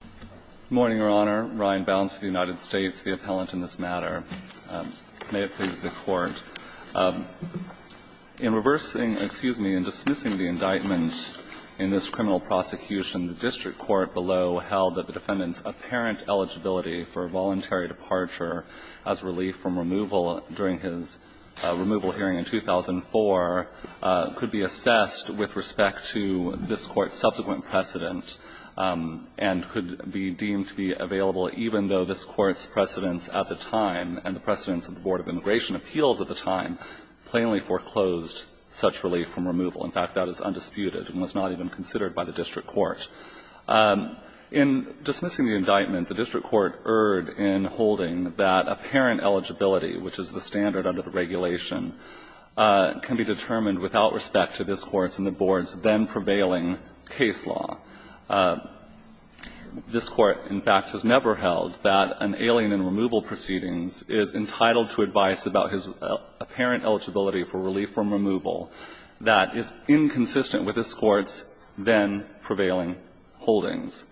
Good morning, Your Honor. Ryan Bounds for the United States, the appellant in this matter. May it please the Court. In reversing — excuse me, in dismissing the indictment in this criminal prosecution, the district court below held that the defendant's apparent eligibility for a voluntary departure as relief from removal during his removal hearing in 2004 could be assessed with respect to this Court's subsequent precedent and could be deemed to be available even though this Court's precedents at the time and the precedents of the Board of Immigration Appeals at the time plainly foreclosed such relief from removal. In fact, that is undisputed and was not even considered by the district court. In dismissing the indictment, the district court erred in holding that apparent eligibility, which is the standard under the regulation, can be determined without respect to this Court's then-prevailing case law. This Court, in fact, has never held that an alien in removal proceedings is entitled to advice about his apparent eligibility for relief from removal that is inconsistent with this Court's then-prevailing holdings.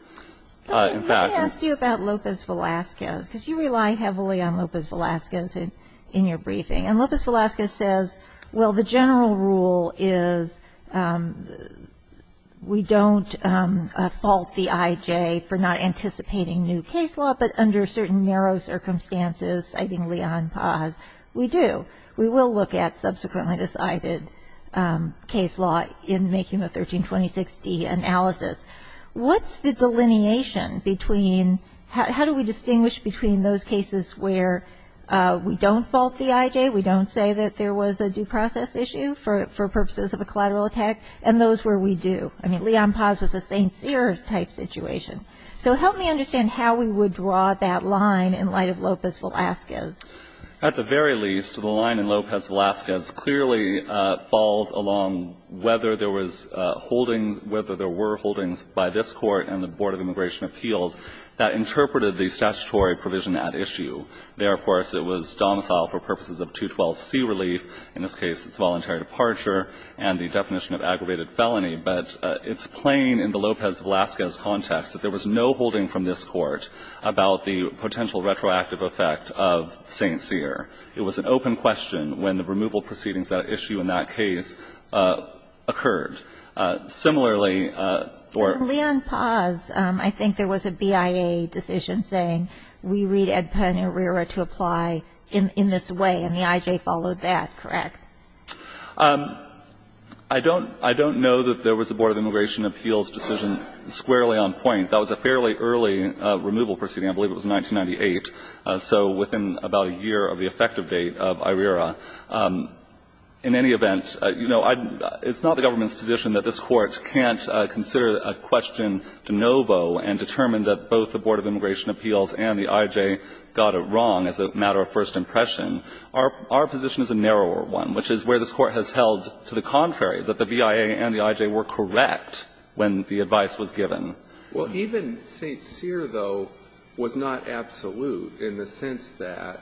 In fact — Kagan, let me ask you about Lopez-Velasquez, because you rely heavily on Lopez-Velasquez in your briefing. And Lopez-Velasquez says, well, the general rule is we don't fault the I.J. for not anticipating new case law, but under certain narrow circumstances, citing Leon Paz, we do. We will look at subsequently decided case law in making the 1326d analysis. What's the delineation between — how do we distinguish between those cases where we don't fault the I.J., we don't say that there was a due process issue for purposes of a collateral attack, and those where we do? I mean, Leon Paz was a Saint Cyr type situation. So help me understand how we would draw that line in light of Lopez-Velasquez. At the very least, the line in Lopez-Velasquez clearly falls along whether there was holdings — whether there were holdings by this Court and the Board of Immigration Appeals that interpreted the statutory provision at issue. There, of course, it was domicile for purposes of 212c relief. In this case, it's voluntary departure and the definition of aggravated felony. But it's plain in the Lopez-Velasquez context that there was no holding from this Court about the potential retroactive effect of Saint Cyr. It was an open question when the removal proceedings that issue in that case occurred. Similarly, or — But, Leon Paz, I think there was a BIA decision saying, we read Ed Penn and IRERA to apply in this way, and the I.J. followed that, correct? I don't — I don't know that there was a Board of Immigration Appeals decision squarely on point. That was a fairly early removal proceeding. I believe it was 1998, so within about a year of the effective date of IRERA. In any event, you know, it's not the government's position that this Court can't answer a question de novo and determine that both the Board of Immigration Appeals and the I.J. got it wrong as a matter of first impression. Our position is a narrower one, which is where this Court has held to the contrary, that the BIA and the I.J. were correct when the advice was given. Well, even Saint Cyr, though, was not absolute in the sense that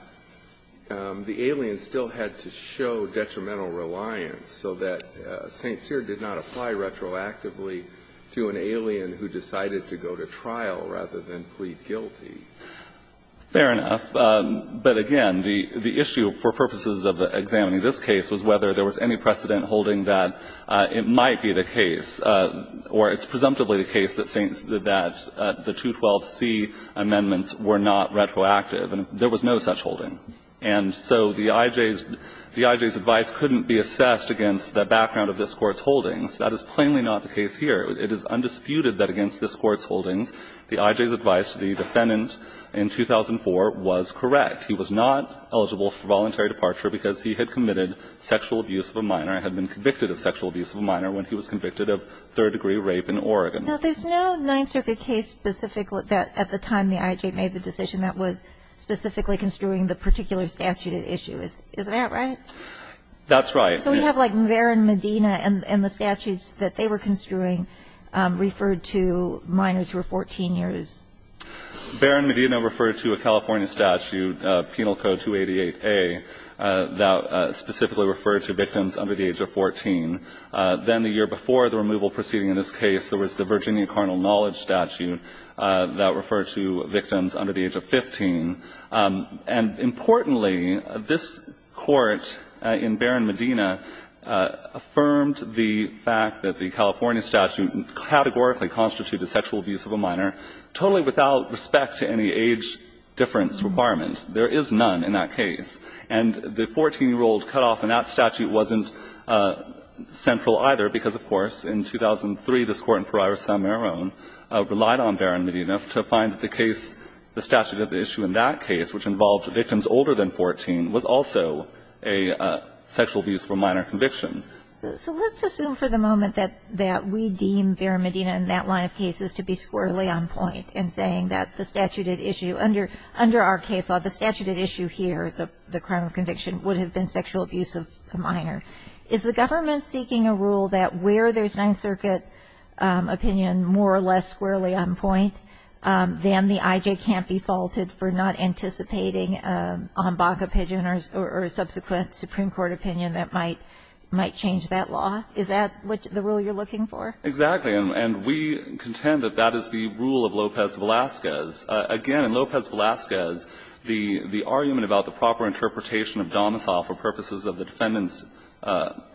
the aliens still had to show detrimental reliance so that Saint Cyr did not apply retroactively to an alien who decided to go to trial rather than plead guilty. Fair enough. But again, the issue for purposes of examining this case was whether there was any precedent holding that it might be the case, or it's presumptively the case that the 212c amendments were not retroactive, and there was no such holding. And so the I.J.'s advice couldn't be assessed against the background of this Court's holdings. That is plainly not the case here. It is undisputed that against this Court's holdings, the I.J.'s advice to the defendant in 2004 was correct. He was not eligible for voluntary departure because he had committed sexual abuse of a minor and had been convicted of sexual abuse of a minor when he was convicted of third-degree rape in Oregon. Now, there's no Ninth Circuit case specifically that at the time the I.J. made the decision that was specifically construing the particular statute issue. Is that right? That's right. So we have, like, Barron-Medina and the statutes that they were construing referred to minors who were 14 years. Barron-Medina referred to a California statute, Penal Code 288a, that specifically referred to victims under the age of 14. Then the year before the removal proceeding in this case, there was the Virginia Carnal Knowledge statute that referred to victims under the age of 15. And importantly, this Court in Barron-Medina affirmed the fact that the California statute categorically constituted sexual abuse of a minor totally without respect to any age difference requirements. There is none in that case. And the 14-year-old cutoff in that statute wasn't central either, because, of course, in 2003 this Court in Parira San Maron relied on Barron-Medina to find the case, the statute of the issue in that case, which involved victims older than 14, was also a sexual abuse of a minor conviction. So let's assume for the moment that we deem Barron-Medina and that line of cases to be squarely on point in saying that the statute at issue under our case law, the statute at issue here, the crime of conviction, would have been sexual abuse of a minor. Is the government seeking a rule that where there's Ninth Circuit opinion more or less they can't be faulted for not anticipating on Baca Pigeon or subsequent Supreme Court opinion that might change that law? Is that the rule you're looking for? Exactly. And we contend that that is the rule of Lopez-Velasquez. Again, in Lopez-Velasquez, the argument about the proper interpretation of domicile for purposes of the defendant's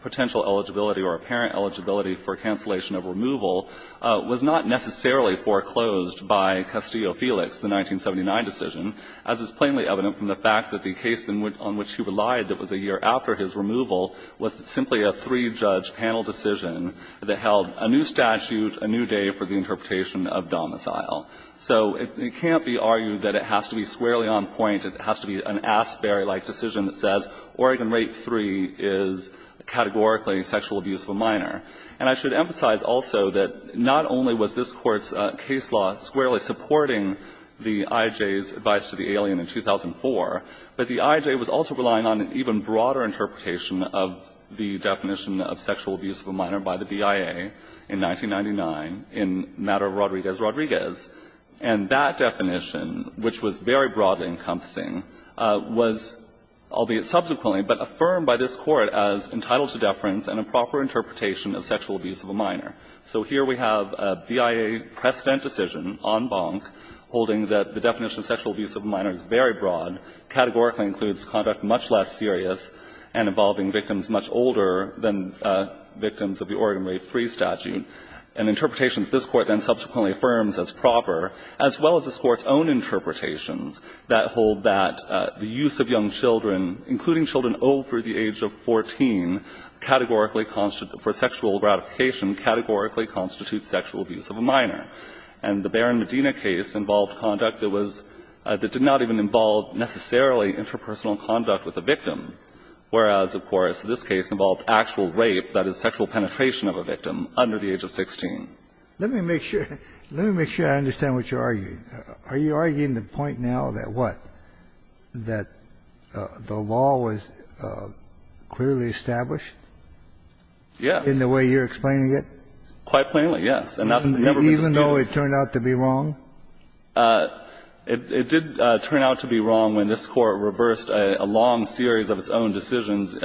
potential eligibility or apparent eligibility for cancellation of removal was not necessarily foreclosed by Castillo-Felix, the 1979 decision, as is plainly evident from the fact that the case on which he relied that was a year after his removal was simply a three-judge panel decision that held a new statute, a new day for the interpretation of domicile. So it can't be argued that it has to be squarely on point. It has to be an Asbury-like decision that says Oregon Rape III is categorically a sexual abuse of a minor. And I should emphasize also that not only was this Court's case law squarely supporting the IJ's advice to the alien in 2004, but the IJ was also relying on an even broader interpretation of the definition of sexual abuse of a minor by the BIA in 1999 in matter of Rodriguez-Rodriguez. And that definition, which was very broadly encompassing, was, albeit subsequently, but affirmed by this Court as entitled to deference and a proper interpretation of sexual abuse of a minor. So here we have a BIA precedent decision en banc holding that the definition of sexual abuse of a minor is very broad, categorically includes conduct much less serious and involving victims much older than victims of the Oregon Rape III statute, an interpretation that this Court then subsequently affirms as proper, as well as this Court's own interpretations that hold that the use of young children, including children over the age of 14, categorically constitute for sexual gratification, categorically constitutes sexual abuse of a minor. And the Barron-Medina case involved conduct that was — that did not even involve necessarily interpersonal conduct with the victim, whereas, of course, this case involved actual rape, that is, sexual penetration of a victim under the age of 16. Let me make sure — let me make sure I understand what you're arguing. Are you arguing the point now that what, that the law was clearly established? Yes. In the way you're explaining it? Quite plainly, yes. And that's never been the case. Even though it turned out to be wrong? It did turn out to be wrong when this Court reversed a long series of its own decisions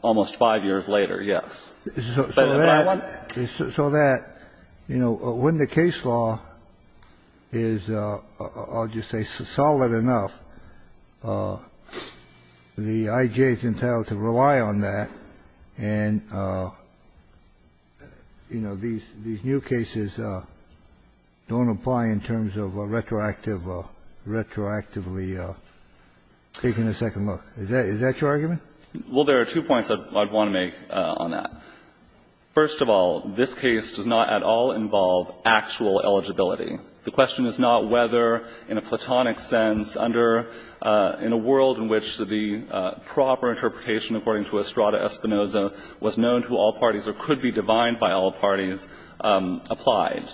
almost five years later, yes. So that, you know, when the case law is, I'll just say, solid enough, the I.G.A. is entitled to rely on that, and, you know, these new cases don't apply in terms of a retroactive, retroactively taking a second look. Is that your argument? Well, there are two points I'd want to make on that. First of all, this case does not at all involve actual eligibility. The question is not whether, in a platonic sense, under — in a world in which the proper interpretation according to Estrada-Espinosa was known to all parties or could be divined by all parties applied.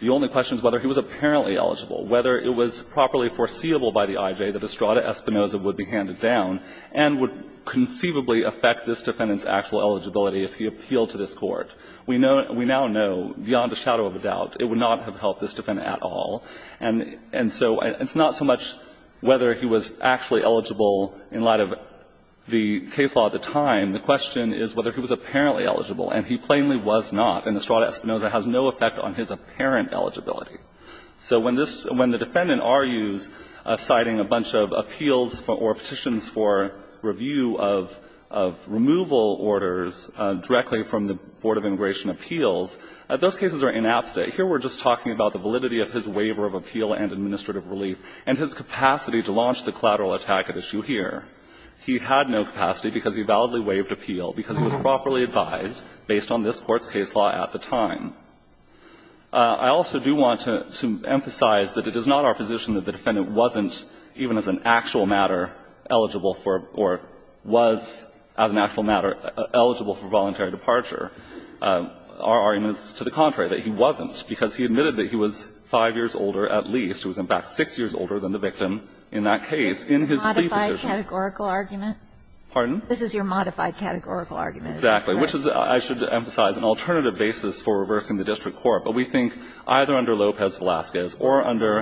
The only question is whether he was apparently eligible, whether it was properly foreseeable by the I.G.A. that Estrada-Espinosa would be handed down and would appeal to this Court. We now know, beyond a shadow of a doubt, it would not have helped this defendant at all. And so it's not so much whether he was actually eligible in light of the case law at the time. The question is whether he was apparently eligible, and he plainly was not, and Estrada-Espinosa has no effect on his apparent eligibility. So when this — when the defendant argues citing a bunch of appeals for — or petitions for review of — of removal orders directly from the Board of Immigration Appeals, those cases are inabsent. Here we're just talking about the validity of his waiver of appeal and administrative relief and his capacity to launch the collateral attack at issue here. He had no capacity because he validly waived appeal because it was properly advised based on this Court's case law at the time. I also do want to emphasize that it is not our position that the defendant wasn't, even as an actual matter, eligible for — or was, as an actual matter, eligible for voluntary departure. Our argument is to the contrary, that he wasn't, because he admitted that he was 5 years older, at least. He was, in fact, 6 years older than the victim in that case in his plea petition. Kagan. This is your modified categorical argument? Pardon? This is your modified categorical argument. Exactly. Which is, I should emphasize, an alternative basis for reversing the district court. But we think either under Lopez-Velasquez or under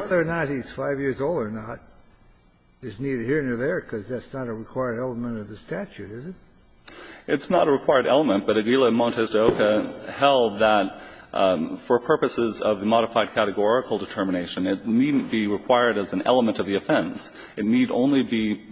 — It's neither here nor there, because that's not a required element of the statute, is it? It's not a required element, but Aguila Montes de Oca held that for purposes of the modified categorical determination, it needn't be required as an element of the offense. It need only be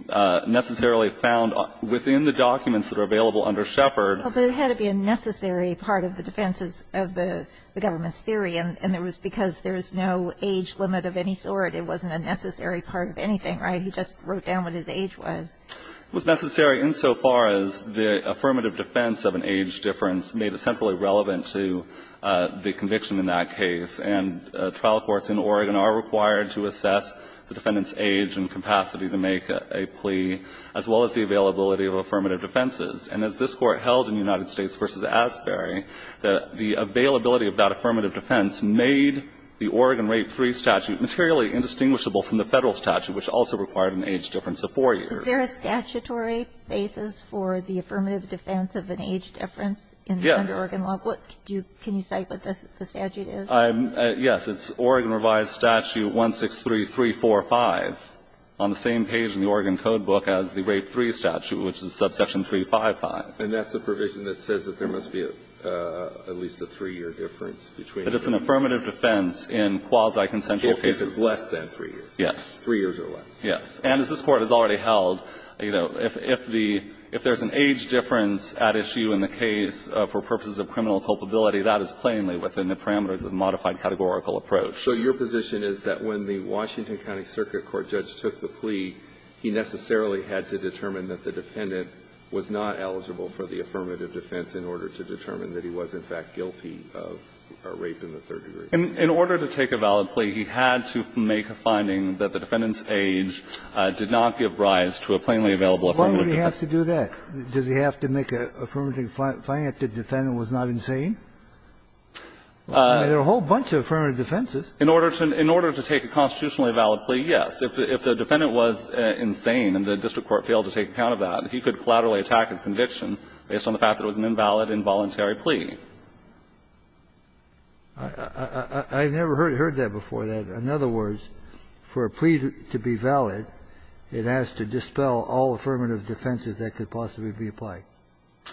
necessarily found within the documents that are available under Shepard. Well, but it had to be a necessary part of the defense of the government's theory, and it was because there is no age limit of any sort. It wasn't a necessary part of anything, right? He just wrote down what his age was. It was necessary insofar as the affirmative defense of an age difference made it centrally relevant to the conviction in that case. And trial courts in Oregon are required to assess the defendant's age and capacity to make a plea, as well as the availability of affirmative defenses. And as this Court held in United States v. Asbury, the availability of that affirmative defense made the Oregon Rape III statute materially indistinguishable from the Federal statute, which also required an age difference of 4 years. Is there a statutory basis for the affirmative defense of an age difference in the Oregon law? Yes. What do you do? Can you cite what the statute is? Yes. It's Oregon revised statute 163345 on the same page in the Oregon code book as the Rape III statute, which is subsection 355. between the two. But it's an affirmative defense in quasi-consensual cases. If it's less than 3 years. Yes. 3 years or less. Yes. And as this Court has already held, you know, if the – if there's an age difference at issue in the case for purposes of criminal culpability, that is plainly within the parameters of modified categorical approach. So your position is that when the Washington County Circuit Court judge took the plea, he necessarily had to determine that the defendant was not eligible for the affirmative defense in order to determine that he was, in fact, guilty of rape in the third degree? In order to take a valid plea, he had to make a finding that the defendant's age did not give rise to a plainly available affirmative defense. Why would he have to do that? Does he have to make a affirmative – find that the defendant was not insane? I mean, there are a whole bunch of affirmative defenses. In order to take a constitutionally valid plea, yes. If the defendant was insane and the district court failed to take account of that, he could collaterally attack his conviction based on the fact that it was an invalid, involuntary plea. I've never heard that before, that in other words, for a plea to be valid, it has to dispel all affirmative defenses that could possibly be applied.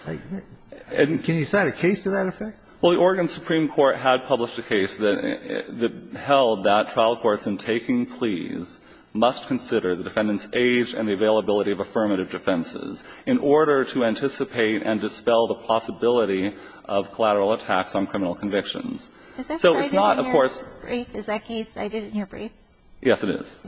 Can you cite a case to that effect? Well, the Oregon Supreme Court had published a case that held that trial courts in taking pleas must consider the defendant's age and the availability of affirmative defenses in order to anticipate and dispel the possibility of collateral attacks on criminal convictions. So it's not, of course – Is that cited in your brief? Is that case cited in your brief? Yes, it is.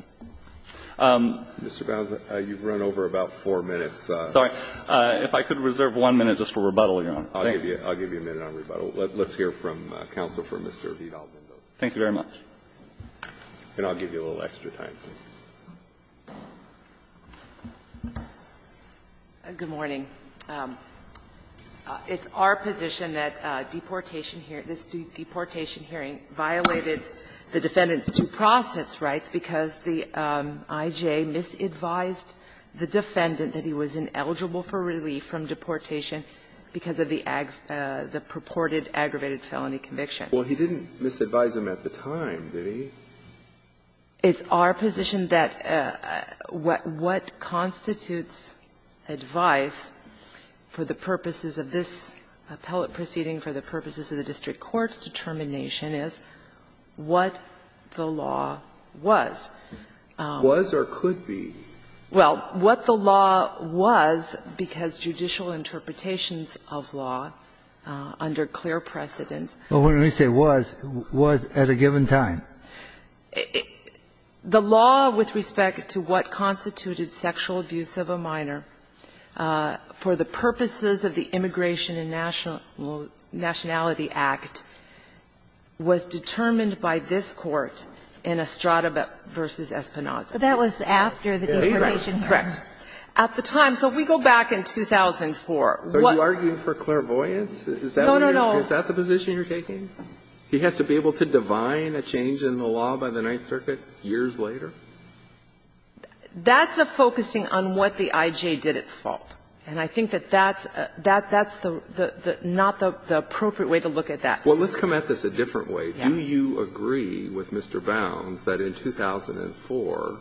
Mr. Bowne, you've run over about four minutes. Sorry. If I could reserve one minute just for rebuttal, Your Honor. I'll give you a minute on rebuttal. Let's hear from counsel for Mr. Vidal-Mendoza. Thank you very much. And I'll give you a little extra time, please. Good morning. It's our position that deportation here – this deportation hearing violated the defendant's due process rights because the I.J. misadvised the defendant that he was ineligible for relief from deportation because of the purported aggravated felony conviction. Well, he didn't misadvise him at the time, did he? It's our position that what constitutes advice for the purposes of this appellate proceeding, for the purposes of the district court's determination is what the law was. Was or could be. Well, what the law was, because judicial interpretations of law under clear precedent Well, when we say was, was at a given time. The law with respect to what constituted sexual abuse of a minor for the purposes of the Immigration and Nationality Act was determined by this Court in Estrada v. Espinoza. But that was after the deportation hearing. Correct. At the time. So if we go back in 2004, what – Is that the position you're taking? No, no, no. He has to be able to divine a change in the law by the Ninth Circuit years later? That's a focusing on what the I.J. did at fault. And I think that that's the – not the appropriate way to look at that. Well, let's come at this a different way. Do you agree with Mr. Bounds that in 2004,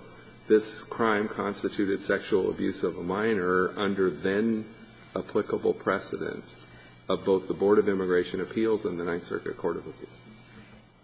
this crime constituted sexual abuse of a minor under then-applicable precedent of both the Board of Immigration and Nationality Act and appeals and the Ninth Circuit Court of Appeals?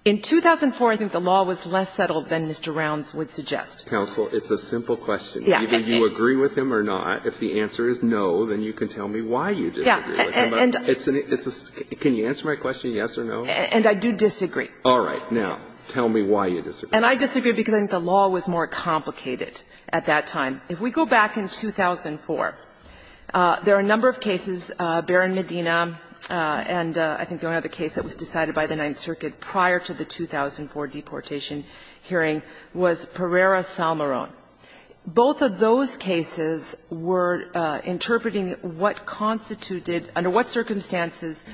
In 2004, I think the law was less settled than Mr. Bounds would suggest. Counsel, it's a simple question. Either you agree with him or not. If the answer is no, then you can tell me why you disagree with him. It's a – can you answer my question, yes or no? And I do disagree. All right. Now, tell me why you disagree. And I disagree because I think the law was more complicated at that time. If we go back in 2004, there are a number of cases, Barron-Medina, and I think the only other case that was decided by the Ninth Circuit prior to the 2004 deportation hearing was Pereira-Salmarón. Both of those cases were interpreting what constituted, under what circumstances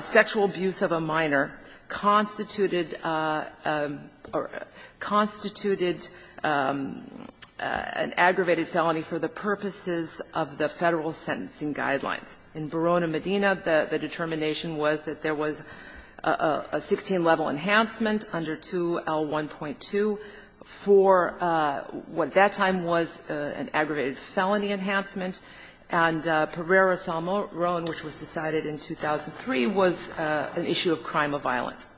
sexual abuse of a minor constituted an aggravated felony for the purposes of the Federal sentencing guidelines. In Barron-Medina, the determination was that there was a 16-level enhancement under 2L1.2 for what at that time was an aggravated felony enhancement, and Pereira-Salmarón, which was decided in 2003, was an issue of crime of violence.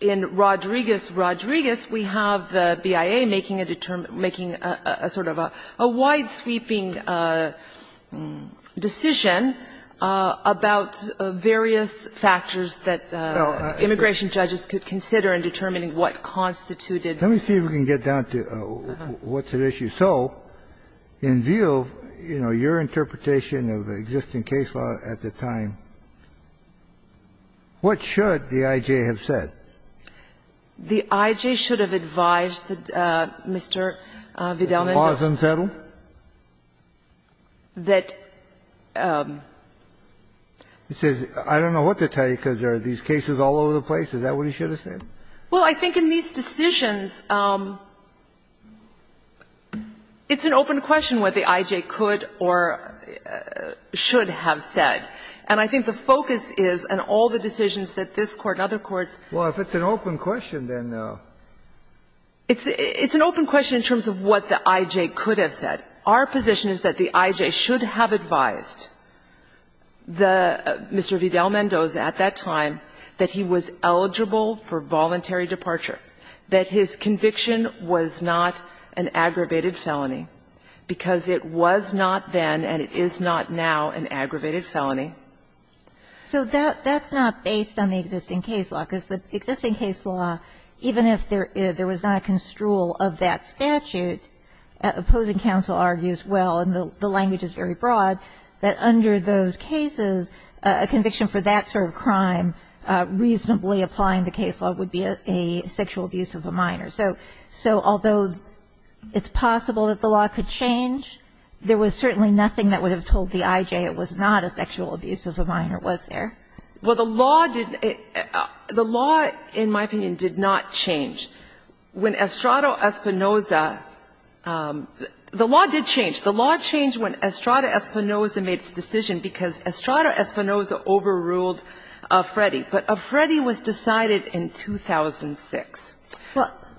In Rodriguez-Rodriguez, we have the BIA making a sort of a wide-sweeping decision about various factors that immigration judges could consider in determining what constituted. Let me see if we can get down to what's at issue. If so, in view of, you know, your interpretation of the existing case law at the time, what should the I.J. have said? The I.J. should have advised Mr. Vidalman that the law is unsettled, that the legislation should be changed. It says I don't know what to tell you because there are these cases all over the place. Is that what he should have said? Well, I think in these decisions, it's an open question what the I.J. could or should have said. And I think the focus is, in all the decisions that this Court and other courts have made. Well, if it's an open question, then? It's an open question in terms of what the I.J. could have said. Our position is that the I.J. should have advised the Mr. Vidalman at that time that he was eligible for voluntary departure, that his conviction was not an aggravated felony, because it was not then and it is not now an aggravated felony. So that's not based on the existing case law, because the existing case law, even if there was not a construal of that statute, opposing counsel argues well, and the a conviction for that sort of crime reasonably applying the case law would be a sexual abuse of a minor. So although it's possible that the law could change, there was certainly nothing that would have told the I.J. it was not a sexual abuse as a minor was there? Well, the law did the law, in my opinion, did not change. When Estrada Espinosa, the law did change. The law changed when Estrada Espinosa made the decision, because Estrada Espinosa overruled Afredi, but Afredi was decided in 2006.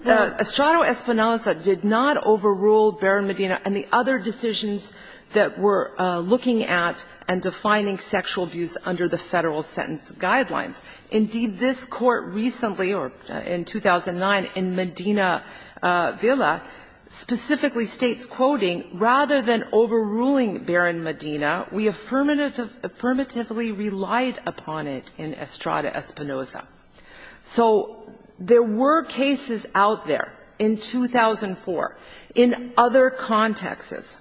Estrada Espinosa did not overrule Barron Medina and the other decisions that were looking at and defining sexual abuse under the Federal Sentence Guidelines. Indeed, this Court recently, or in 2009, in Medina Villa, specifically states, and I'm quoting, "...rather than overruling Barron Medina, we affirmatively relied upon it in Estrada Espinosa." So there were cases out there in 2004 in other contexts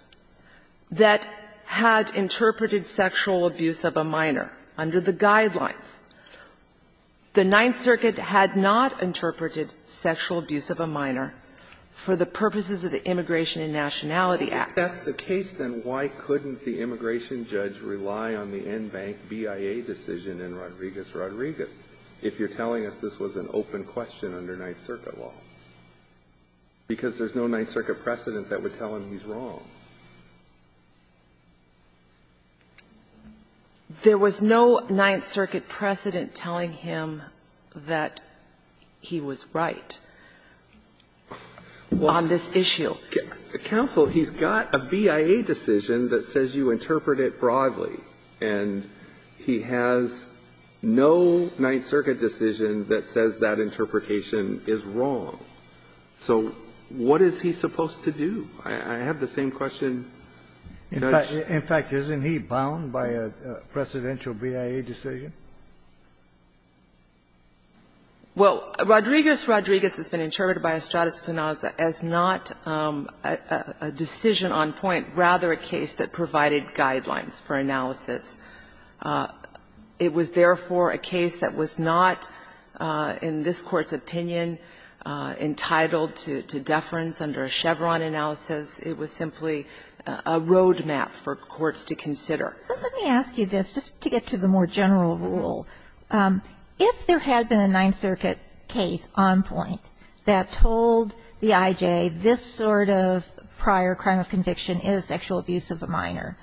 that had interpreted sexual abuse of a minor under the Guidelines. The Ninth Circuit had not interpreted sexual abuse of a minor for the purposes of the Immigration and Nationality Act. If that's the case, then why couldn't the immigration judge rely on the NBANC BIA decision in Rodriguez-Rodriguez if you're telling us this was an open question under Ninth Circuit law? Because there's no Ninth Circuit precedent that would tell him he's wrong. There was no Ninth Circuit precedent telling him that he was right on this issue Counsel, he's got a BIA decision that says you interpret it broadly, and he has no Ninth Circuit decision that says that interpretation is wrong. So what is he supposed to do? I have the same question. In fact, isn't he bound by a precedential BIA decision? Well, Rodriguez-Rodriguez has been interpreted by Estrada Espinosa as not, as a precedent for a decision on point, rather a case that provided guidelines for analysis. It was, therefore, a case that was not, in this Court's opinion, entitled to deference under a Chevron analysis. It was simply a road map for courts to consider. But let me ask you this, just to get to the more general rule. If there had been a Ninth Circuit case on point that told the I.J. this sort of prior crime of conviction is sexual abuse of a minor,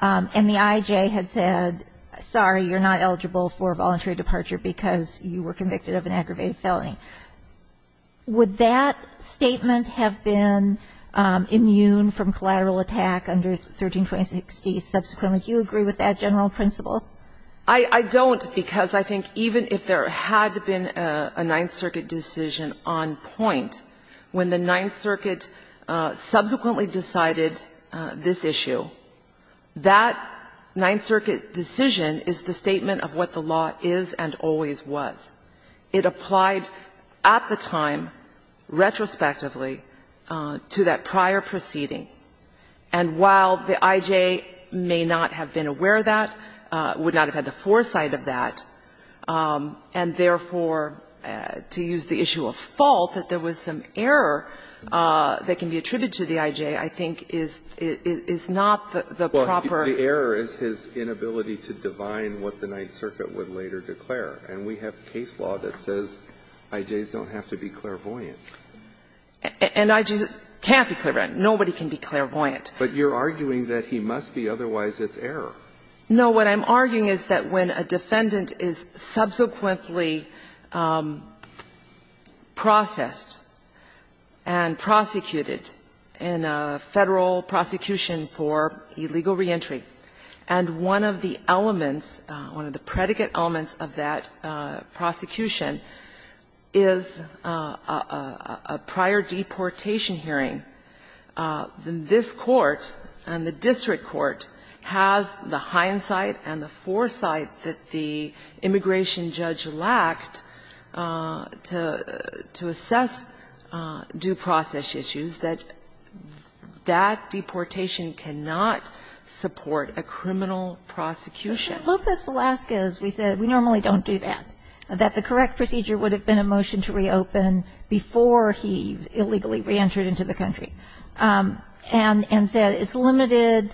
and the I.J. had said, sorry, you're not eligible for voluntary departure because you were convicted of an aggravated felony, would that statement have been immune from collateral attack under 132060 subsequently? Do you agree with that general principle? I don't, because I think even if there had been a Ninth Circuit decision on point, when the Ninth Circuit subsequently decided this issue, that Ninth Circuit decision is the statement of what the law is and always was. It applied at the time, retrospectively, to that prior proceeding. And while the I.J. may not have been aware of that, would not have had the foresight of that, and therefore, to use the issue of fault, that there was some error that can be attributed to the I.J., I think is not the proper. Well, the error is his inability to divine what the Ninth Circuit would later declare. And we have case law that says I.J.s don't have to be clairvoyant. And I.J.s can't be clairvoyant. Nobody can be clairvoyant. But you're arguing that he must be, otherwise it's error. No. What I'm arguing is that when a defendant is subsequently processed and prosecuted in a Federal prosecution for illegal reentry, and one of the elements, one of the This Court, and the district court, has the hindsight and the foresight that the immigration judge lacked to assess due process issues, that that deportation cannot support a criminal prosecution. But in Lopez Velasquez, we said we normally don't do that, that the correct procedure would have been a motion to reopen before he illegally reentered into the country. And said it's limited,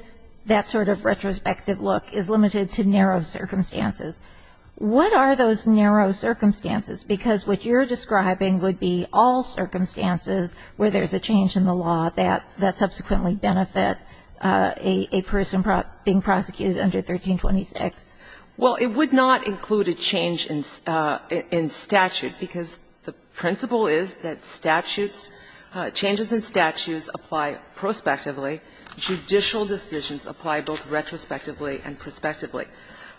that sort of retrospective look, is limited to narrow circumstances. What are those narrow circumstances? Because what you're describing would be all circumstances where there's a change in the law that subsequently benefit a person being prosecuted under 1326. Well, it would not include a change in statute, because the principle is that statutes changes in statutes apply prospectively, judicial decisions apply both retrospectively and prospectively.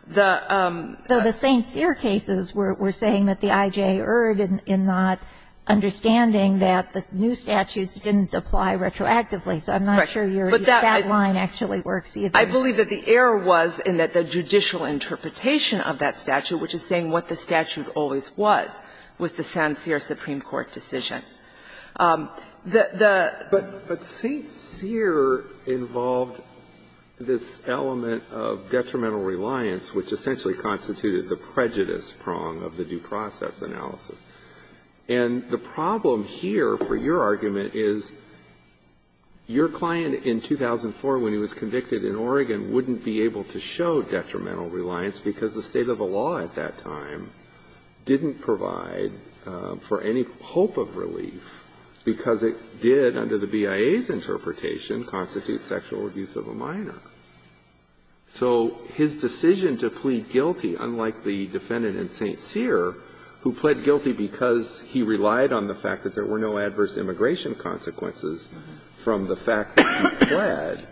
The St. Cyr cases were saying that the I.J. Erd in not understanding that the new statutes didn't apply retroactively, so I'm not sure your line actually works. I believe that the error was in that the judicial interpretation of that statute, which is saying what the statute always was, was the St. Cyr Supreme Court decision. The St. Cyr involved this element of detrimental reliance, which essentially constituted the prejudice prong of the due process analysis. And the problem here, for your argument, is your client in 2004, when he was convicted in Oregon, wouldn't be able to show detrimental reliance, because the state of the belief, because it did, under the BIA's interpretation, constitute sexual abuse of a minor. So his decision to plead guilty, unlike the defendant in St. Cyr, who pled guilty because he relied on the fact that there were no adverse immigration consequences from the fact that he pled,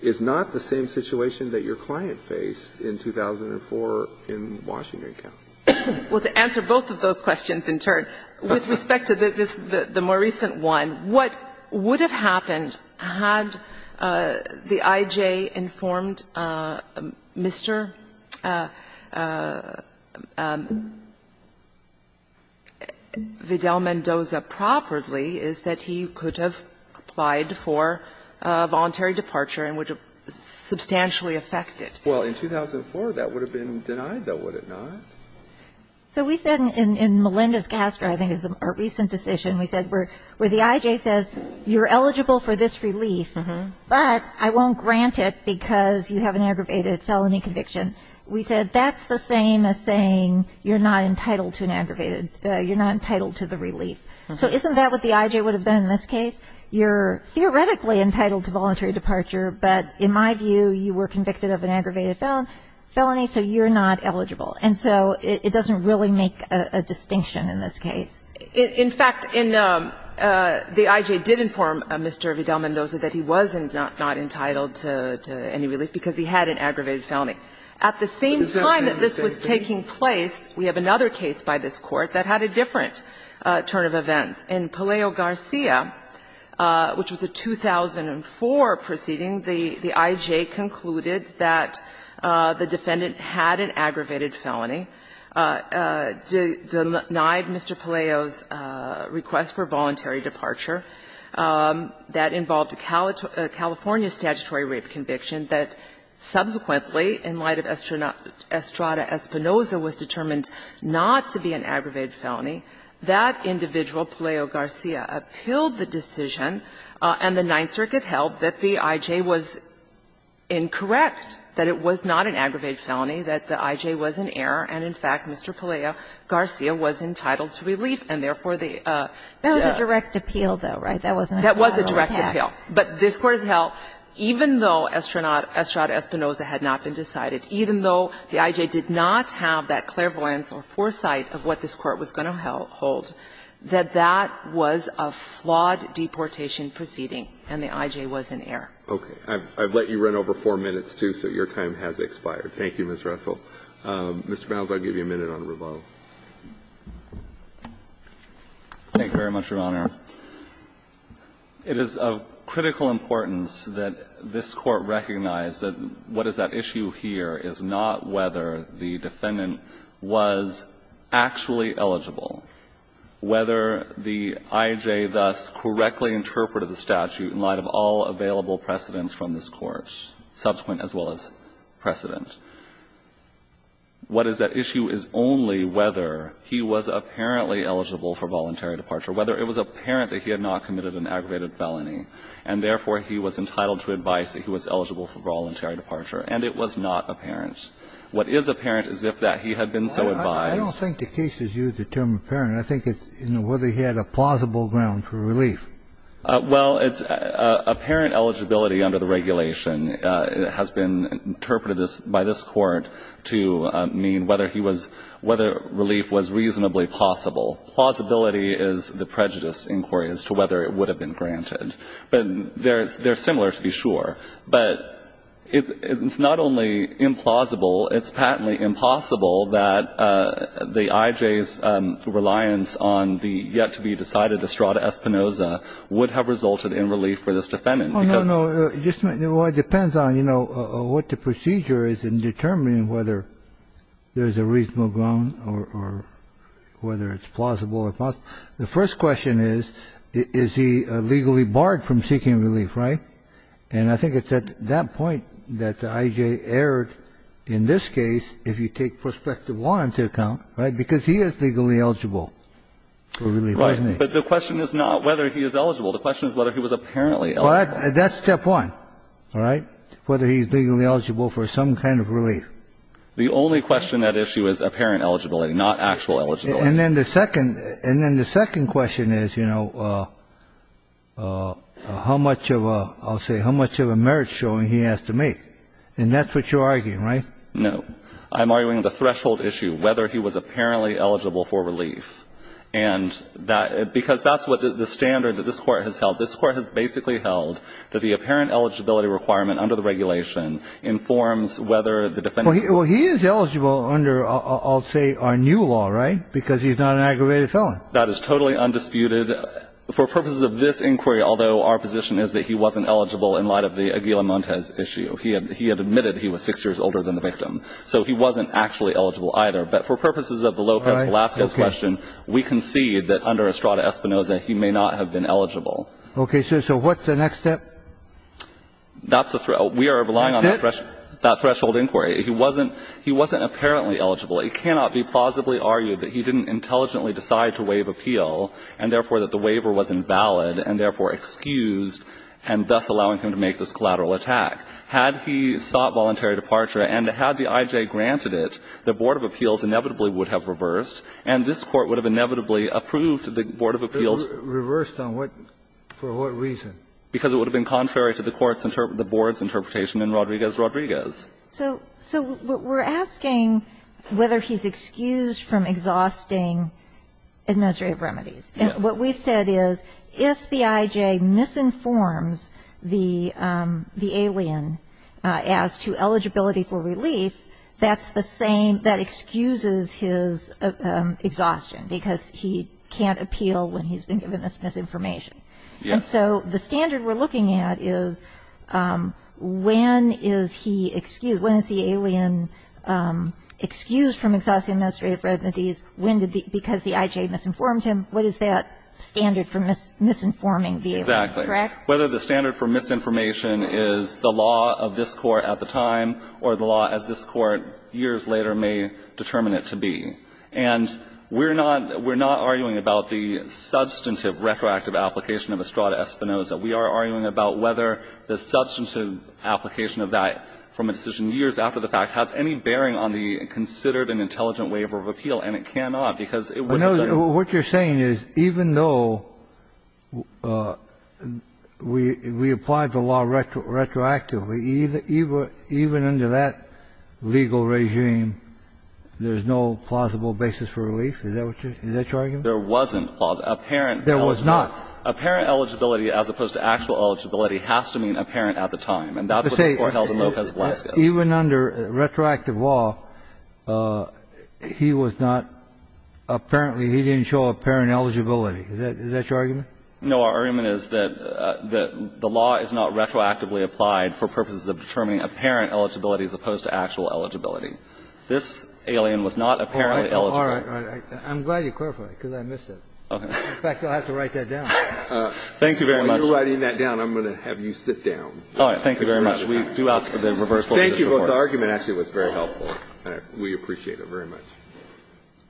is not the same situation that your client faced in 2004 in Washington County. Well, to answer both of those questions in turn, with respect to the more recent one, what would have happened had the I.J. informed Mr. Vidal-Mendoza properly is that he could have applied for a voluntary departure and would have substantially affected. Well, in 2004, that would have been denied, though, would it not? So we said, in Melinda's cast, or I think it was a recent decision, we said, where the I.J. says, you're eligible for this relief, but I won't grant it because you have an aggravated felony conviction. We said, that's the same as saying you're not entitled to an aggravated, you're not entitled to the relief. So isn't that what the I.J. would have done in this case? You're theoretically entitled to voluntary departure, but in my view, you were convicted of an aggravated felony, so you're not eligible. And so it doesn't really make a distinction in this case. In fact, in the I.J. did inform Mr. Vidal-Mendoza that he was not entitled to any relief because he had an aggravated felony. At the same time that this was taking place, we have another case by this Court that had a different turn of events. In Palaio Garcia, which was a 2004 proceeding, the I.J. concluded that the defendant had an aggravated felony, denied Mr. Palaio's request for voluntary departure that involved a California statutory rape conviction that subsequently, in light of Estrada-Espinoza, was determined not to be an aggravated felony. That individual, Palaio Garcia, appealed the decision, and the Ninth Circuit held that the I.J. was incorrect, that it was not an aggravated felony, that the I.J. was in error, and in fact, Mr. Palaio Garcia was entitled to relief, and therefore the judge. Kagan That was a direct appeal, though, right? That wasn't a collateral attack. Saharsky But this Court has held, even though Estrada-Espinoza had not been decided, even though the I.J. did not have that clairvoyance or foresight of what this Court was going to hold, that that was a flawed deportation proceeding, and the I.J. was in error. Kennedy Okay. I've let you run over 4 minutes, too, so your time has expired. Thank you, Ms. Russell. Mr. Malz, I'll give you a minute on the rebuttal. Malz Thank you very much, Your Honor. It is of critical importance that this Court recognize that what is at issue here is not whether the defendant was actually eligible, whether the I.J. thus correctly interpreted the statute in light of all available precedents from this Court, subsequent as well as precedent. What is at issue is only whether he was apparently eligible for voluntary departure, whether it was apparent that he had not committed an aggravated felony, and therefore he was entitled to advice that he was eligible for voluntary departure, and it was not apparent. What is apparent is if that he had been so advised. Kennedy I don't think the case is used the term apparent. I think it's whether he had a plausible ground for relief. Malz Well, it's apparent eligibility under the regulation has been interpreted by this Court to mean whether he was, whether relief was reasonably plausible. Plausibility is the prejudice inquiry as to whether it would have been granted. But they're similar, to be sure. But it's not only implausible, it's patently impossible that the IJ's reliance on the yet to be decided Estrada Espinosa would have resulted in relief for this defendant. Kennedy No, no, no. It depends on, you know, what the procedure is in determining whether there's a reasonable ground or whether it's plausible or not. The first question is, is he legally barred from seeking relief, right? And I think it's at that point that the IJ erred in this case, if you take prospective law into account, right, because he is legally eligible for relief, isn't he? Malz Right. But the question is not whether he is eligible. The question is whether he was apparently eligible. Kennedy That's step one, all right, whether he's legally eligible for some kind of relief. Malz The only question that issue is apparent eligibility, not actual eligibility. Kennedy And then the second question is, you know, how much of a, I'll say, how much of a merit showing he has to make. And that's what you're arguing, right? Malz No. I'm arguing the threshold issue, whether he was apparently eligible for relief. And that, because that's what the standard that this Court has held. This Court has basically held that the apparent eligibility requirement under the regulation informs whether the defendant's Kennedy He is eligible under, I'll say, our new law, right? Because he's not an aggravated felon. Malz That is totally undisputed. For purposes of this inquiry, although our position is that he wasn't eligible in light of the Aguila Montes issue, he had admitted he was six years older than the victim. So he wasn't actually eligible either. But for purposes of the Lopez Velasquez question, we concede that under Estrada Espinoza, he may not have been eligible. Kennedy OK, so what's the next step? Malz That's the thread. We are relying on that threshold inquiry. He wasn't apparently eligible. It cannot be plausibly argued that he didn't intelligently decide to waive appeal and, therefore, that the waiver was invalid and, therefore, excused, and thus allowing him to make this collateral attack. Had he sought voluntary departure and had the I.J. granted it, the Board of Appeals inevitably would have reversed, and this Court would have inevitably approved the Board of Appeals. Kennedy Reversed on what? For what reason? Malz Because it would have been contrary to the Court's interpretation, the Board's interpretation in Rodriguez-Rodriguez. So we're asking whether he's excused from exhausting administrative remedies. Yes. Malz What we've said is if the I.J. misinforms the alien as to eligibility for relief, that's the same that excuses his exhaustion because he can't appeal when he's been given this misinformation. Kennedy Yes. So the standard we're looking at is when is he excused? When is the alien excused from exhausting administrative remedies? When did the – because the I.J. misinformed him? What is that standard for misinforming the alien? Correct? Malz Exactly. Whether the standard for misinformation is the law of this Court at the time or the law as this Court years later may determine it to be. And we're not arguing about the substantive retroactive application of Estrada-Espinoza. We are arguing about whether the substantive application of that from a decision years after the fact has any bearing on the considered and intelligent waiver of appeal. And it cannot because it would have done it. Kennedy I know what you're saying is even though we applied the law retroactively, even under that legal regime, there's no plausible basis for relief? Is that what you're – is that your argument? Malz There wasn't plausible. Apparent – Kennedy There was not. Malz Apparent eligibility as opposed to actual eligibility has to mean apparent at the time. And that's what the Court held in Lopez-Velasquez. Kennedy Even under retroactive law, he was not – apparently he didn't show apparent eligibility. Is that your argument? Malz No. Our argument is that the law is not retroactively applied for purposes of determining apparent eligibility as opposed to actual eligibility. This alien was not apparently eligible. Kennedy All right. All right. I'm glad you clarified it because I missed it. In fact, I'll have to write that down. Malz Thank you very much. Kennedy While you're writing that down, I'm going to have you sit down. Malz All right. Thank you very much. We do ask for the reversal of your support. Kennedy Thank you. The argument actually was very helpful. And we appreciate it very much.